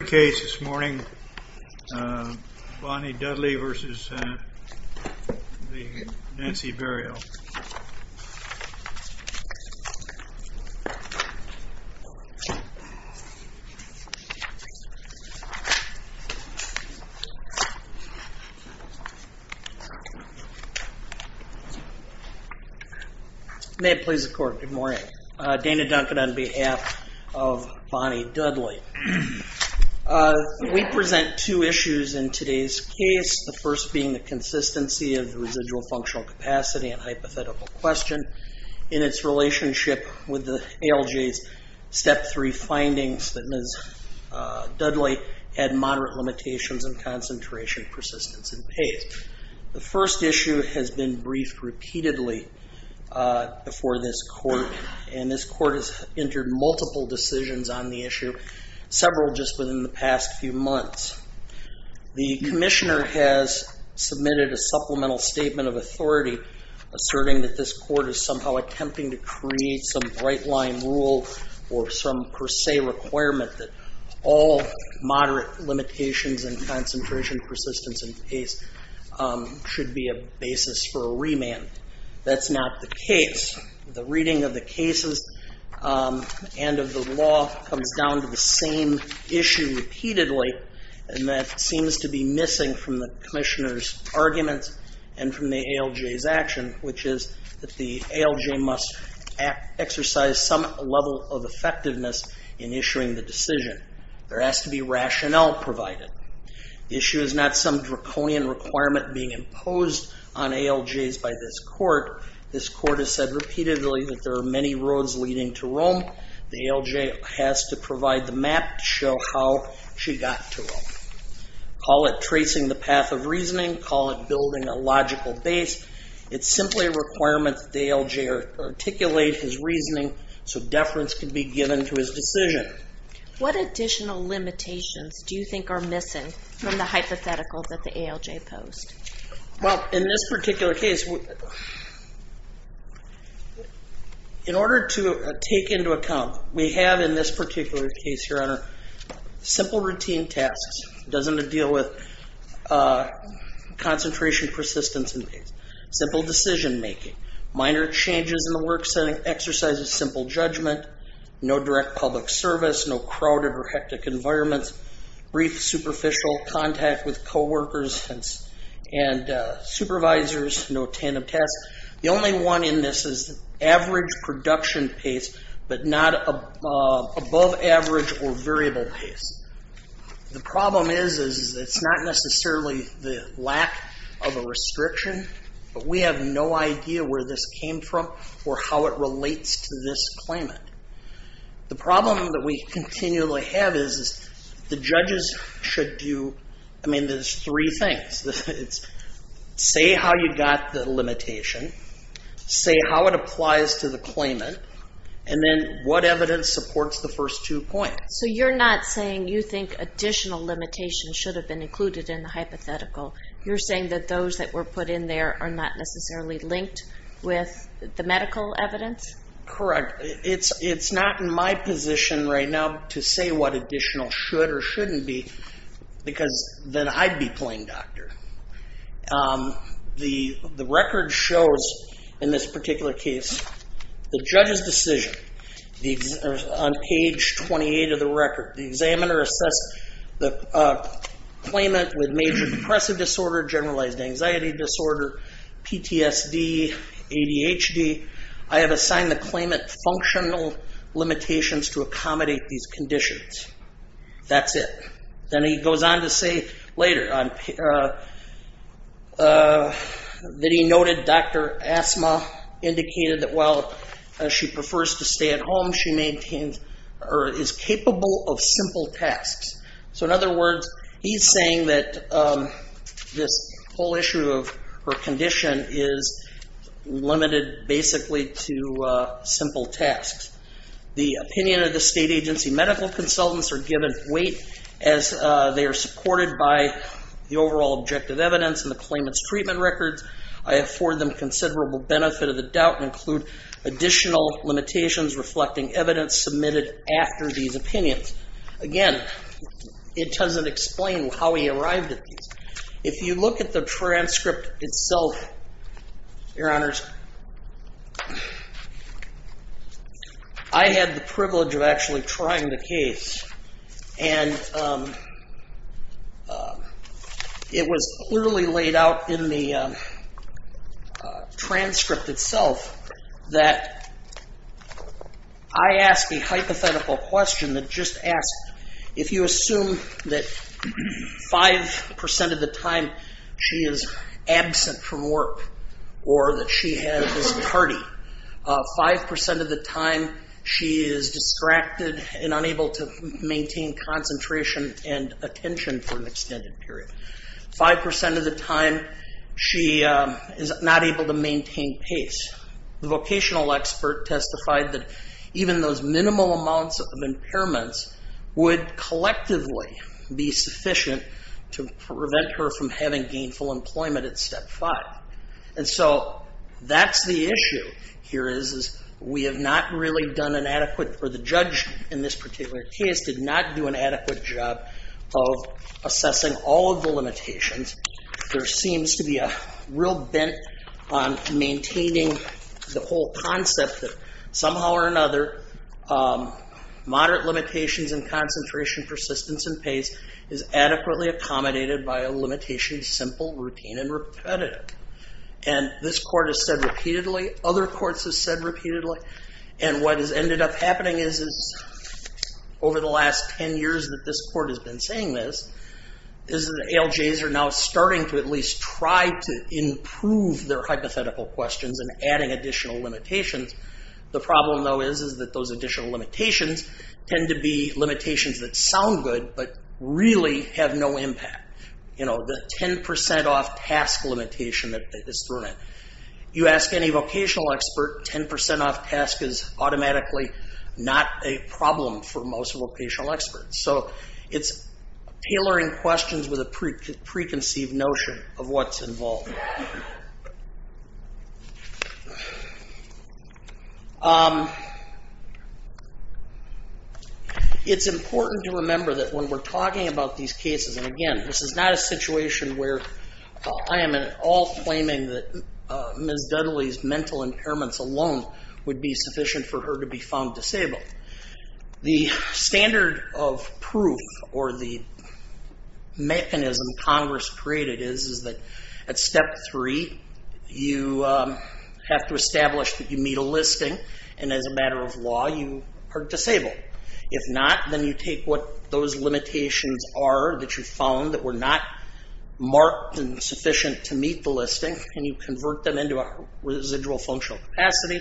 May it please the court, good morning. Dana Duncan on behalf of Bonnie Dudley. We present two issues in today's case, the first being the consistency of the residual functional capacity and hypothetical question in its relationship with the ALJ's step 3 findings that Ms. Dudley had moderate limitations and concentration persistence in pace. The first issue has been briefed repeatedly before this court and this court has entered multiple decisions on the issue, several just within the past few months. The commissioner has submitted a supplemental statement of authority asserting that this court is somehow attempting to create some bright-line rule or some per se requirement that all moderate limitations and concentration persistence in pace should be a basis for a remand. That's not the case. The end of the law comes down to the same issue repeatedly and that seems to be missing from the commissioners arguments and from the ALJ's action which is that the ALJ must exercise some level of effectiveness in issuing the decision. There has to be rationale provided. The issue is not some draconian requirement being imposed on ALJ's by this court. This court has said repeatedly that there are many roads leading to Rome. The ALJ has to provide the map to show how she got to Rome. Call it tracing the path of reasoning, call it building a logical base. It's simply a requirement that the ALJ articulate his reasoning so deference can be given to his decision. What additional limitations do you think are missing from the hypothetical that the ALJ posed? Well in this particular case, in order to take into account we have in this particular case your honor simple routine tasks. It doesn't deal with concentration persistence in pace. Simple decision-making, minor changes in the work setting, exercises simple judgment, no direct public service, no crowded or hectic environments, brief superficial contact with co-workers and supervisors, no tandem tasks. The only one in this is average production pace but not above average or variable pace. The problem is it's not necessarily the lack of a restriction but we have no idea where this came from or how it relates to this claimant. The problem that we continually have is the judges should do, I mean there's three things. It's say how you got the limitation, say how it applies to the claimant, and then what evidence supports the first two points. So you're not saying you think additional limitations should have been included in the hypothetical. You're saying that those that were put in there are not necessarily linked with the medical evidence? Correct. It's not in my position right now to say what additional should or shouldn't be because then I'd be plain doctor. The record shows in this particular case the judge's decision on page 28 of the record. The examiner assessed the claimant with major depressive disorder, generalized anxiety disorder, PTSD, ADHD. I have assigned the claimant functional limitations to accommodate these conditions. That's it. Then he goes on to say later that he noted Dr. Asma indicated that while she prefers to stay at home she maintains or is capable of simple tasks. So in other words he's saying that this whole issue of her condition is limited basically to simple tasks. The opinion of the state agency medical consultants are given weight as they are supported by the overall objective evidence and the claimant's treatment records. I afford them considerable benefit of the doubt and include additional limitations reflecting evidence submitted after these opinions. Again it doesn't explain how he arrived at these. If you look at the transcript itself, your honors, I had the privilege of actually trying the case and it was clearly laid out in the transcript itself that I asked a hypothetical question that just asked if you assume that 5% of the time she is absent from work or that she has this tardy, 5% of the time she is distracted and unable to maintain concentration and attention for an extended period, 5% of the time she is not able to maintain pace. The vocational expert testified that even those minimal amounts of impairments would collectively be sufficient to prevent her from having gainful employment at step five. And so that's the issue here is we have not really done an adequate, or the judge in this particular case did not do an adequate job of assessing all of the limitations. There seems to be a real bent on maintaining the whole concept that somehow or another, moderate limitations and concentration, persistence and pace is adequately accommodated by a limitation of simple, routine and repetitive. And this court has said repeatedly, other courts have said repeatedly, and what has ended up happening is over the last 10 years that this court has been saying this, is that ALJs are now starting to at least try to The problem though is that those additional limitations tend to be limitations that sound good, but really have no impact. The 10% off task limitation that is thrown in. You ask any vocational expert, 10% off task is automatically not a problem for most vocational experts. So it's tailoring questions with a preconceived notion of what's involved. It's important to remember that when we're talking about these cases, and again, this is not a situation where I am at all claiming that Ms. Dudley's mental impairments alone would be sufficient for her to be found disabled. The standard of proof, or the mechanism Congress created is that at step three, you have to establish that you meet a listing, and as a matter of law, you are disabled. If not, then you take what those limitations are that you found that were not marked and sufficient to meet the listing, and you convert them into a residual functional capacity.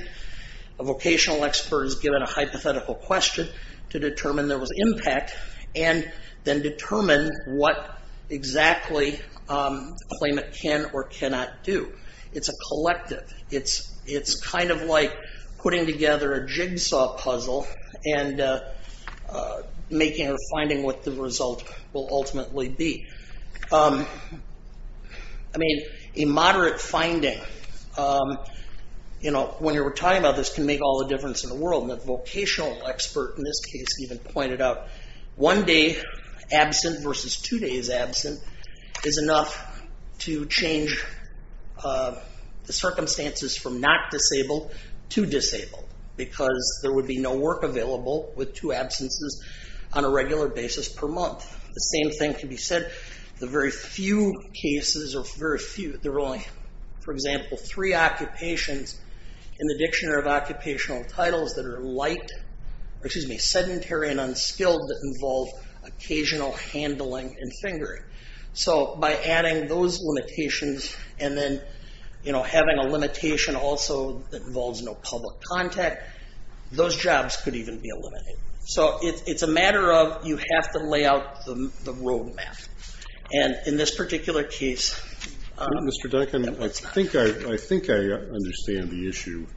A vocational expert is given a hypothetical question to determine there was impact, and then determine what exactly the It's a collective. It's kind of like putting together a jigsaw puzzle, and making or finding what the result will ultimately be. I mean, a moderate finding, when you're talking about this, can make all the difference in the world. A vocational expert, in this case, even pointed out one day absent versus two days absent, is enough to change the circumstances from not disabled to disabled, because there would be no work available with two absences on a regular basis per month. The same thing can be said, the very few cases, or very few, there are only, for example, three occupations in the Dictionary of Occupational Titles that are light, or excuse me, sedentary and unskilled that have occasional handling and fingering. So by adding those limitations, and then having a limitation also that involves no public contact, those jobs could even be eliminated. So it's a matter of, you have to lay out the roadmap. And in this particular case... Mr. Duncan, I think I understand the issue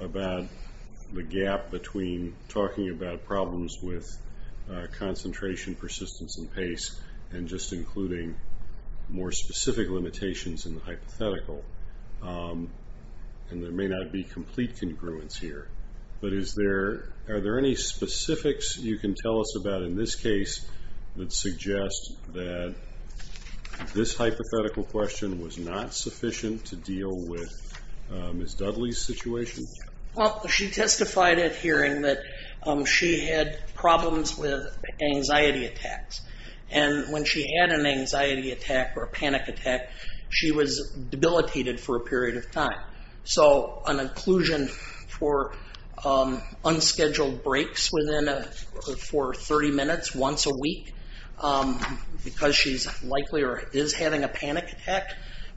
about the gap between talking about problems with concentration, persistence, and pace, and just including more specific limitations in the hypothetical. And there may not be complete congruence here, but are there any specifics you can tell us about in this case that suggest that this hypothetical question was not a serious situation? Well, she testified at hearing that she had problems with anxiety attacks. And when she had an anxiety attack or a panic attack, she was debilitated for a period of time. So an inclusion for unscheduled breaks for 30 minutes once a week, because she's likely or is having a panic attack,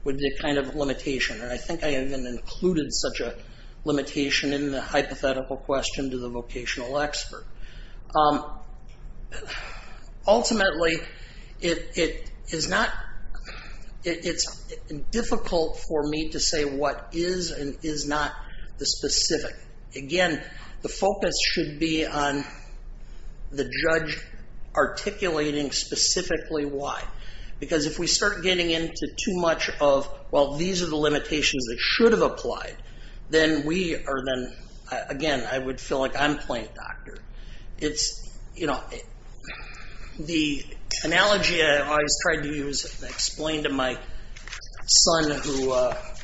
would be a kind of limitation. And I think I even included such a limitation in the hypothetical question to the vocational expert. Ultimately, it's difficult for me to say what is and is not the specific. Again, the focus should be on the judge articulating specifically why. Because if we start getting into too much of, well, these are the limitations that should have applied, then we are then... Again, I would feel like I'm playing doctor. The analogy I always tried to use and explain to my son who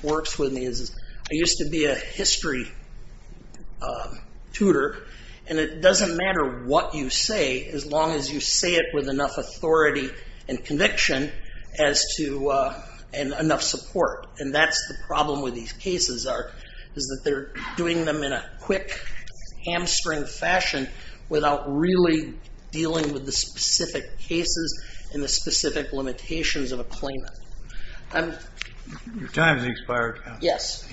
works with me is, I used to be a history tutor, and it doesn't matter what you say as long as you say it with enough authority and conviction and enough support. And that's the problem with these cases is that they're doing them in a quick hamstring fashion without really dealing with the specific cases and the specific limitations of a claimant. Your time has expired. Yes.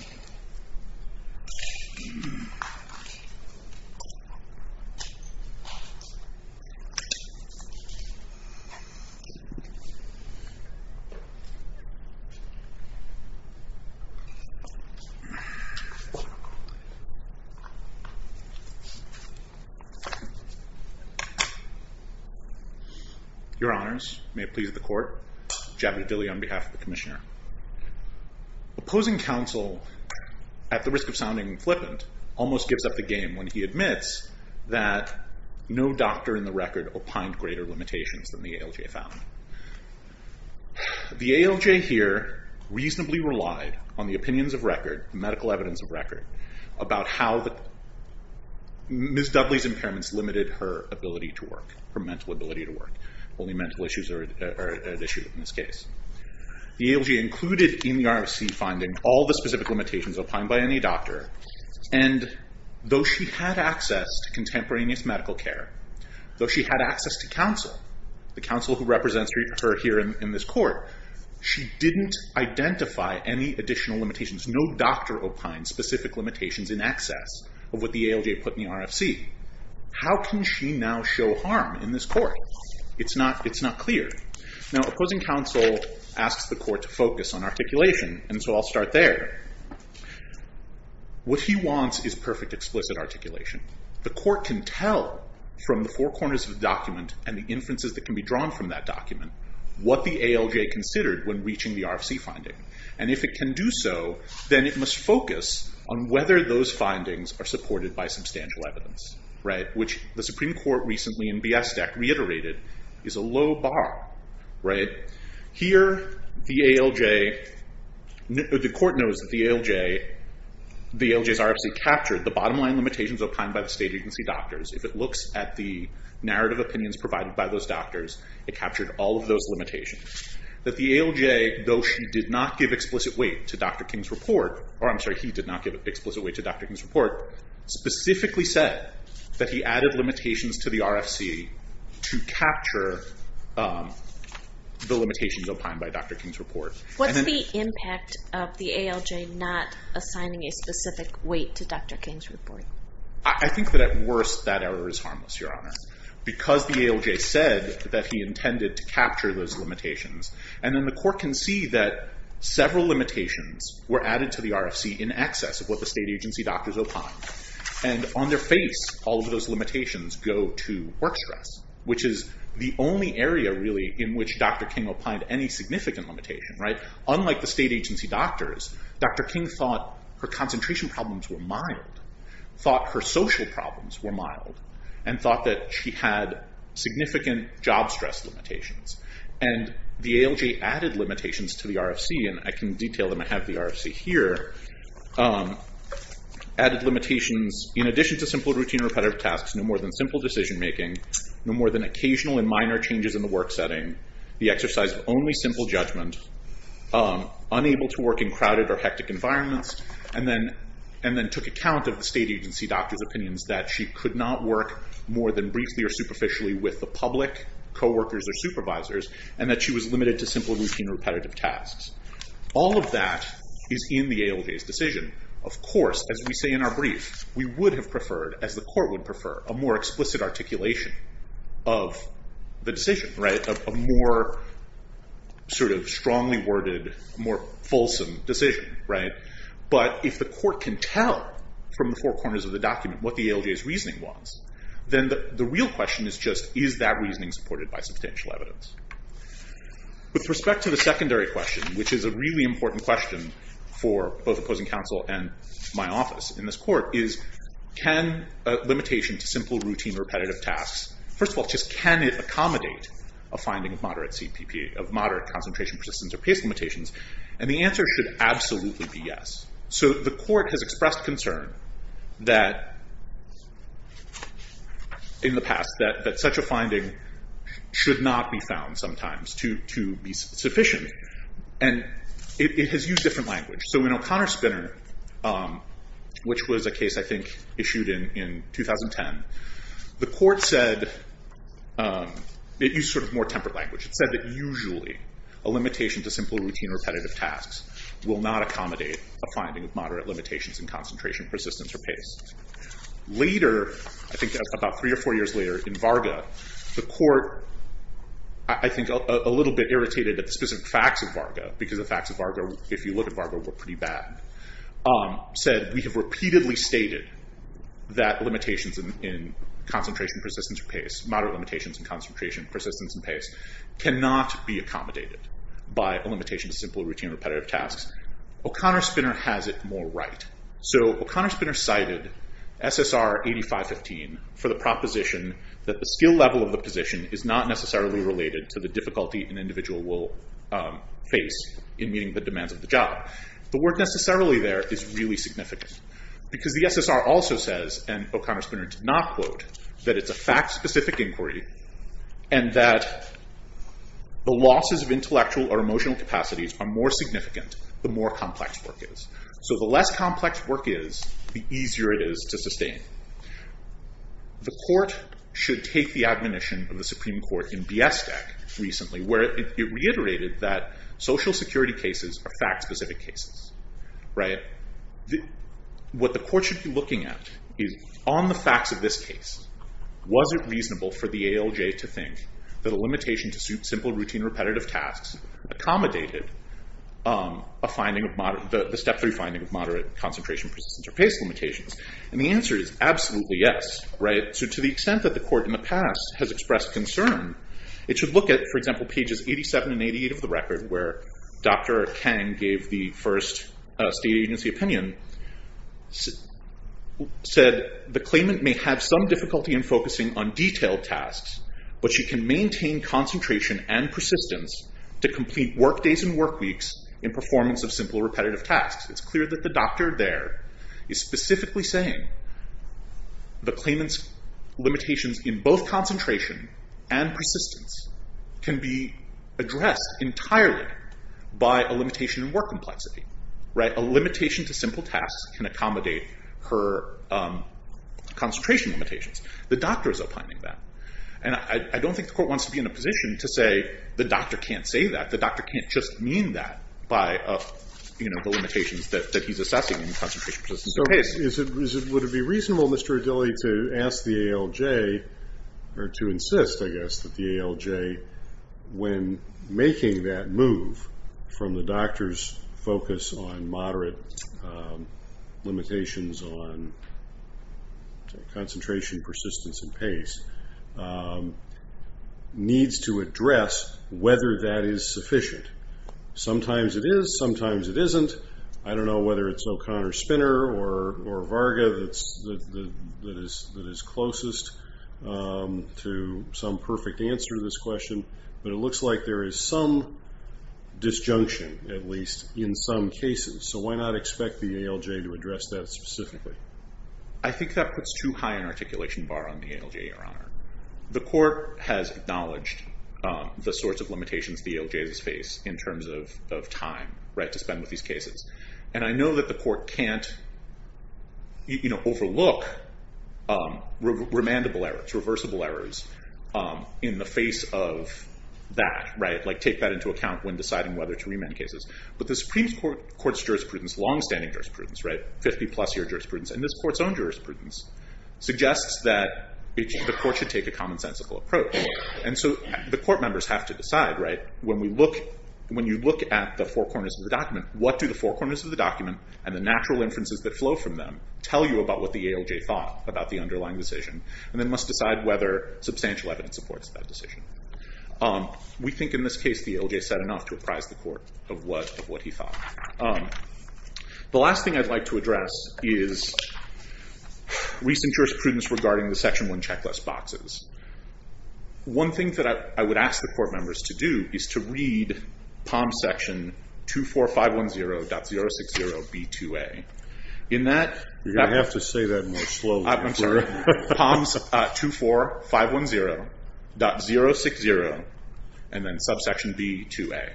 Your honors, may it please the court, Javid Dilley on behalf of the commissioner. Opposing counsel, at the risk of sounding flippant, almost gives up the game when he says no doctor in the record opined greater limitations than the ALJ found. The ALJ here reasonably relied on the opinions of record, medical evidence of record, about how Ms. Dudley's impairments limited her ability to work, her mental ability to work. Only mental issues are at issue in this case. The ALJ included in the RFC finding all the specific limitations opined by any doctor, and though she had access to contemporaneous medical care, though she had access to counsel, the counsel who represents her here in this court, she didn't identify any additional limitations. No doctor opined specific limitations in excess of what the ALJ put in the RFC. How can she now show harm in this court? It's not clear. Now, opposing counsel asks the court to focus on articulation, and so I'll start there. What he wants is perfect explicit articulation. The court can tell from the four corners of the document, and the inferences that can be drawn from that document, what the ALJ considered when reaching the RFC finding, and if it can do so, then it must focus on whether those findings are supported by substantial evidence, which the Supreme Court recently in B.S. Act reiterated, is a low bar. Here, the ALJ, the court knows that the ALJ's RFC captured the bottom line limitations opined by the state agency doctors. If it looks at the narrative opinions provided by those doctors, it captured all of those limitations. That the ALJ, though she did not give explicit weight to Dr. King's report, or I'm sorry, he did not give explicit weight to Dr. King's report, specifically said that he added limitations to the RFC to capture the limitations opined by Dr. King's report. What's the impact of the ALJ not assigning a specific weight to Dr. King's report? I think that at worst that error is harmless, Your Honor, because the ALJ said that he intended to capture those limitations, and then the court can see that several limitations were added to the RFC in excess of what the state agency doctors opined. And on their face, all of those limitations go to work stress, which is the only area really in which Dr. King opined any significant limitation, right? Unlike the state agency doctors, Dr. King thought her concentration problems were mild, thought her social problems were mild, and thought that she had significant job stress limitations. And the ALJ added limitations to the RFC, and I can detail them, I have the RFC here, added limitations in addition to simple routine repetitive tasks, no more than simple decision-making, no more than occasional and minor changes in the work setting, the exercise of only simple judgment, unable to work in crowded or hectic environments, and then took account of the state agency doctor's opinions that she could not work more than briefly or superficially with the public, co-workers, or supervisors, and that she was limited to simple routine repetitive tasks. All of that is in the ALJ's decision. Of course, as we say in our brief, we would have preferred, as the court would prefer, a more explicit articulation of the decision, right? A more sort of strongly worded, more fulsome decision, right? But if the court can tell from the four corners of the document what the ALJ's reasoning was, then the real question is just, is that reasoning supported by substantial evidence? With respect to the secondary question, which is a really important question for both opposing counsel and my office in this court, is can a limitation to simple routine repetitive tasks, first of all, just can it accommodate a finding of moderate CPP, of moderate concentration, persistence, or pace limitations? And the answer should absolutely be yes. So the court has expressed concern that, in the past, that such a finding should not be used. It has used different language. So in O'Connor-Spinner, which was a case, I think, issued in 2010, the court said, it used sort of more tempered language, it said that usually a limitation to simple routine repetitive tasks will not accommodate a finding of moderate limitations in concentration, persistence, or pace. Later, I think about three or four years later, in Varga, the court, I think, a little bit irritated at the specific facts of Varga, because the if you look at Varga, we're pretty bad, said, we have repeatedly stated that limitations in concentration, persistence, or pace, moderate limitations in concentration, persistence, and pace, cannot be accommodated by a limitation to simple routine repetitive tasks. O'Connor-Spinner has it more right. So O'Connor-Spinner cited SSR 8515 for the proposition that the skill level of the position is not necessarily related to the difficulty an individual will face in meeting the demands of the job. The work necessarily there is really significant, because the SSR also says, and O'Connor-Spinner did not quote, that it's a fact specific inquiry, and that the losses of intellectual or emotional capacities are more significant, the more complex work is. So the less complex work is, the easier it is to sustain. The court should take the admonition of the security cases are fact specific cases. What the court should be looking at is, on the facts of this case, was it reasonable for the ALJ to think that a limitation to simple routine repetitive tasks accommodated a finding of moderate, the step three finding of moderate concentration, persistence, or pace limitations? And the answer is absolutely yes. So to the extent that the court in the past has expressed concern, it should look at, for example, pages 87 and 88 of the record, where Dr. Kang gave the first state agency opinion, said the claimant may have some difficulty in focusing on detailed tasks, but she can maintain concentration and persistence to complete work days and work weeks in performance of simple repetitive tasks. It's clear that the doctor there is specifically saying the claimant's limitations in both can be addressed entirely by a limitation in work complexity. A limitation to simple tasks can accommodate her concentration limitations. The doctor is opining that. And I don't think the court wants to be in a position to say the doctor can't say that. The doctor can't just mean that by the limitations that he's assessing in concentration, persistence, or pace. So would it be reasonable, Mr. Adili, to ask the ALJ, or to insist, I guess, that the ALJ, when making that move from the doctor's focus on moderate limitations on concentration, persistence, and pace, needs to address whether that is sufficient. Sometimes it is, sometimes it isn't. I don't know whether it's O'Connor-Spinner or Varga that is closest to some perfect answer to this question, but it looks like there is some disjunction, at least in some cases. So why not expect the ALJ to address that specifically? I think that puts too high an articulation bar on the ALJ, Your Honor. The court has acknowledged the sorts of limitations the ALJs face in terms of time, right, to spend with these cases. And I know that the court can't, you know, overlook remandable errors, reversible errors, in the face of that, right, like take that into account when deciding whether to remand cases. But the Supreme Court's jurisprudence, long-standing jurisprudence, right, 50-plus year jurisprudence, and this court's own jurisprudence, suggests that the court should take a commonsensical approach. And so the court members have to decide, right, when we look, when you look at the four corners of the document, what do the four corners of the document and the natural inferences that flow from them tell you about what the ALJ thought about the underlying decision, and then must decide whether substantial evidence supports that decision. We think in this case, the ALJ said enough to apprise the court of what he thought. The last thing I'd like to address is recent jurisprudence regarding the Section 1 checklist boxes. One thing that I would ask the court members to do is to read POM Section 24510.060.B2A. In that, you're going to have to say that in a slow way. I'm sorry. POMs 24510.060, and then subsection B2A.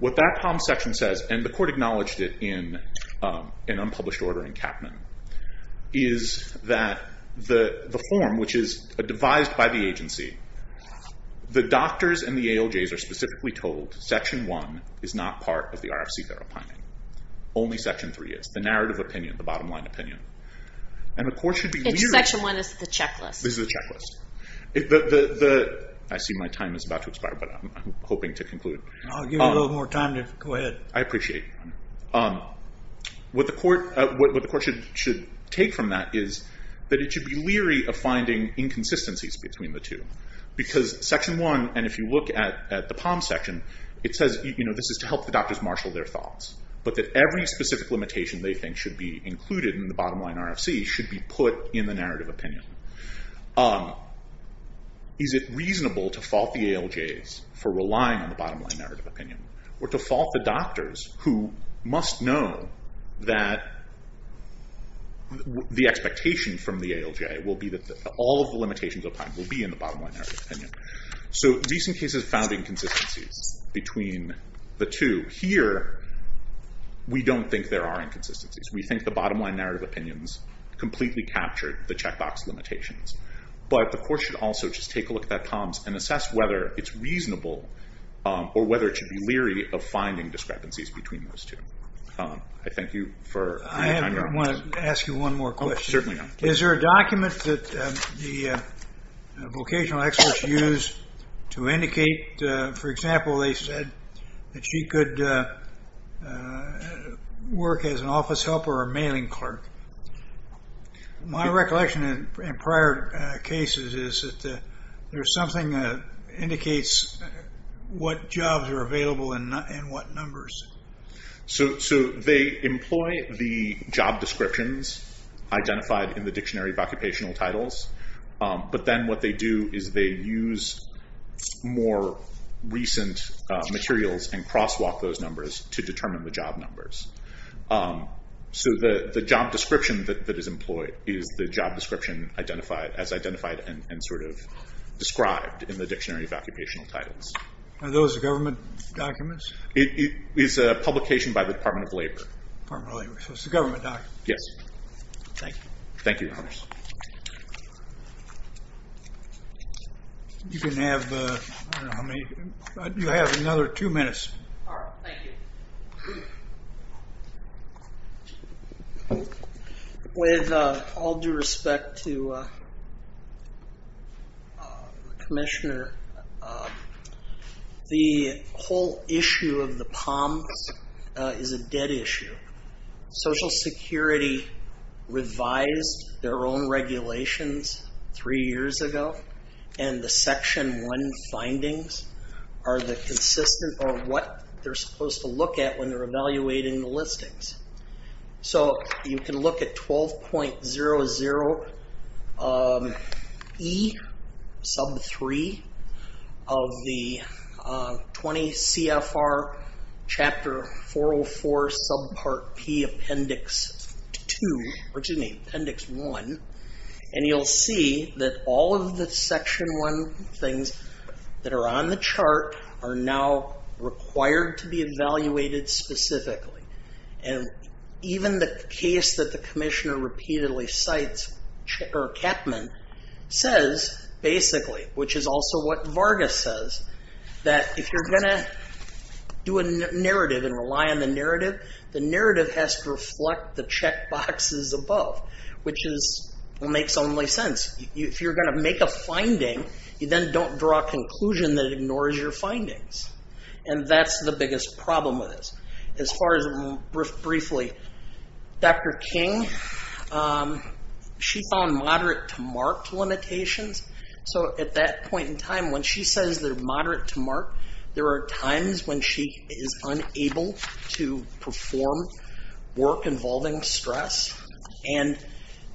What that POM section says, and the court acknowledged it in an unpublished order in Capman, is that the form, which is devised by the agency, the doctors and the ALJs are specifically told Section 1 is not part of the RFC therapy. Only Section 3 is. The narrative opinion, the bottom line opinion. And the court should be leery. It's Section 1, it's the checklist. This is the checklist. I see my time is about to expire, but I'm hoping to conclude. I'll give you a little more time to go ahead. I appreciate it. What the court should take from that is that it should be leery of finding inconsistencies between the two. Because Section 1, and if you look at the POM section, it says this is to help the doctors marshal their thoughts. But that every specific limitation they think should be included in the bottom line RFC should be put in the narrative opinion. Is it reasonable to fault the ALJs for relying on the bottom line narrative opinion? Or to fault the doctors who must know that the expectation from the ALJ will be that all of the limitations will be in the bottom line narrative opinion. So recent cases found inconsistencies between the two. Here we don't think there are inconsistencies. We think the bottom line narrative opinions completely captured the checkbox limitations. But the court should also just take a look at that POMs and assess whether it's reasonable or whether it should be leery of finding discrepancies between those two. I thank you for your time. I want to ask you one more question. Certainly. Is there a document that the vocational experts use to indicate, for example, they said that she could work as an office helper or a mailing clerk. My recollection in prior cases is that there's something that indicates what jobs are available and what numbers. So they employ the job descriptions identified in the dictionary of occupational titles. But then what they do is they use more recent materials and crosswalk those numbers to determine the job numbers. So the job description that is employed is the job description identified as identified and described in the dictionary of occupational titles. Are those government documents? It is a publication by the Department of Labor. Department of Labor. So it's a government document. Yes. Thank you. Thank you. You can have, I don't know how many, you have another two minutes. All right. Thank you. With all due respect to Commissioner, the whole issue of the POMs is a dead issue. Social Security revised their own regulations three years ago and the Section 1 findings are the consistent or what they're supposed to look at when they're evaluating the listings. So you can look at 12.00E sub 3 of the 20 CFR chapter 404 sub part P appendix 2, or excuse me, appendix 1. And you'll see that all of the Section 1 things that are on the chart are now required to be evaluated specifically. And even the case that the Commissioner repeatedly cites, Chapman, says basically, which is also what Vargas says, that if you're going to do a narrative, the narrative has to reflect the checkboxes above, which is what makes only sense. If you're going to make a finding, you then don't draw a conclusion that ignores your findings. And that's the biggest problem with this. As far as briefly, Dr. King, she found moderate to marked limitations. So at that point in time, when she says they're moderate to mark, there are times when she is unable to perform work involving stress. And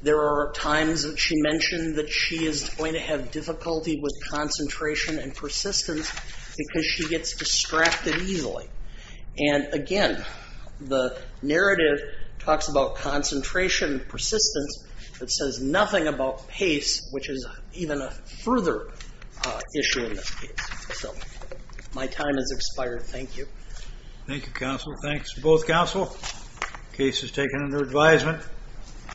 there are times that she mentioned that she is going to have difficulty with concentration and persistence because she gets distracted easily. And again, the narrative talks about concentration and persistence, but says nothing about pace, which is even a further issue in this case. So my time has expired. Thank you. Thank you, counsel. Thanks to both counsel. Case is taken under advisement.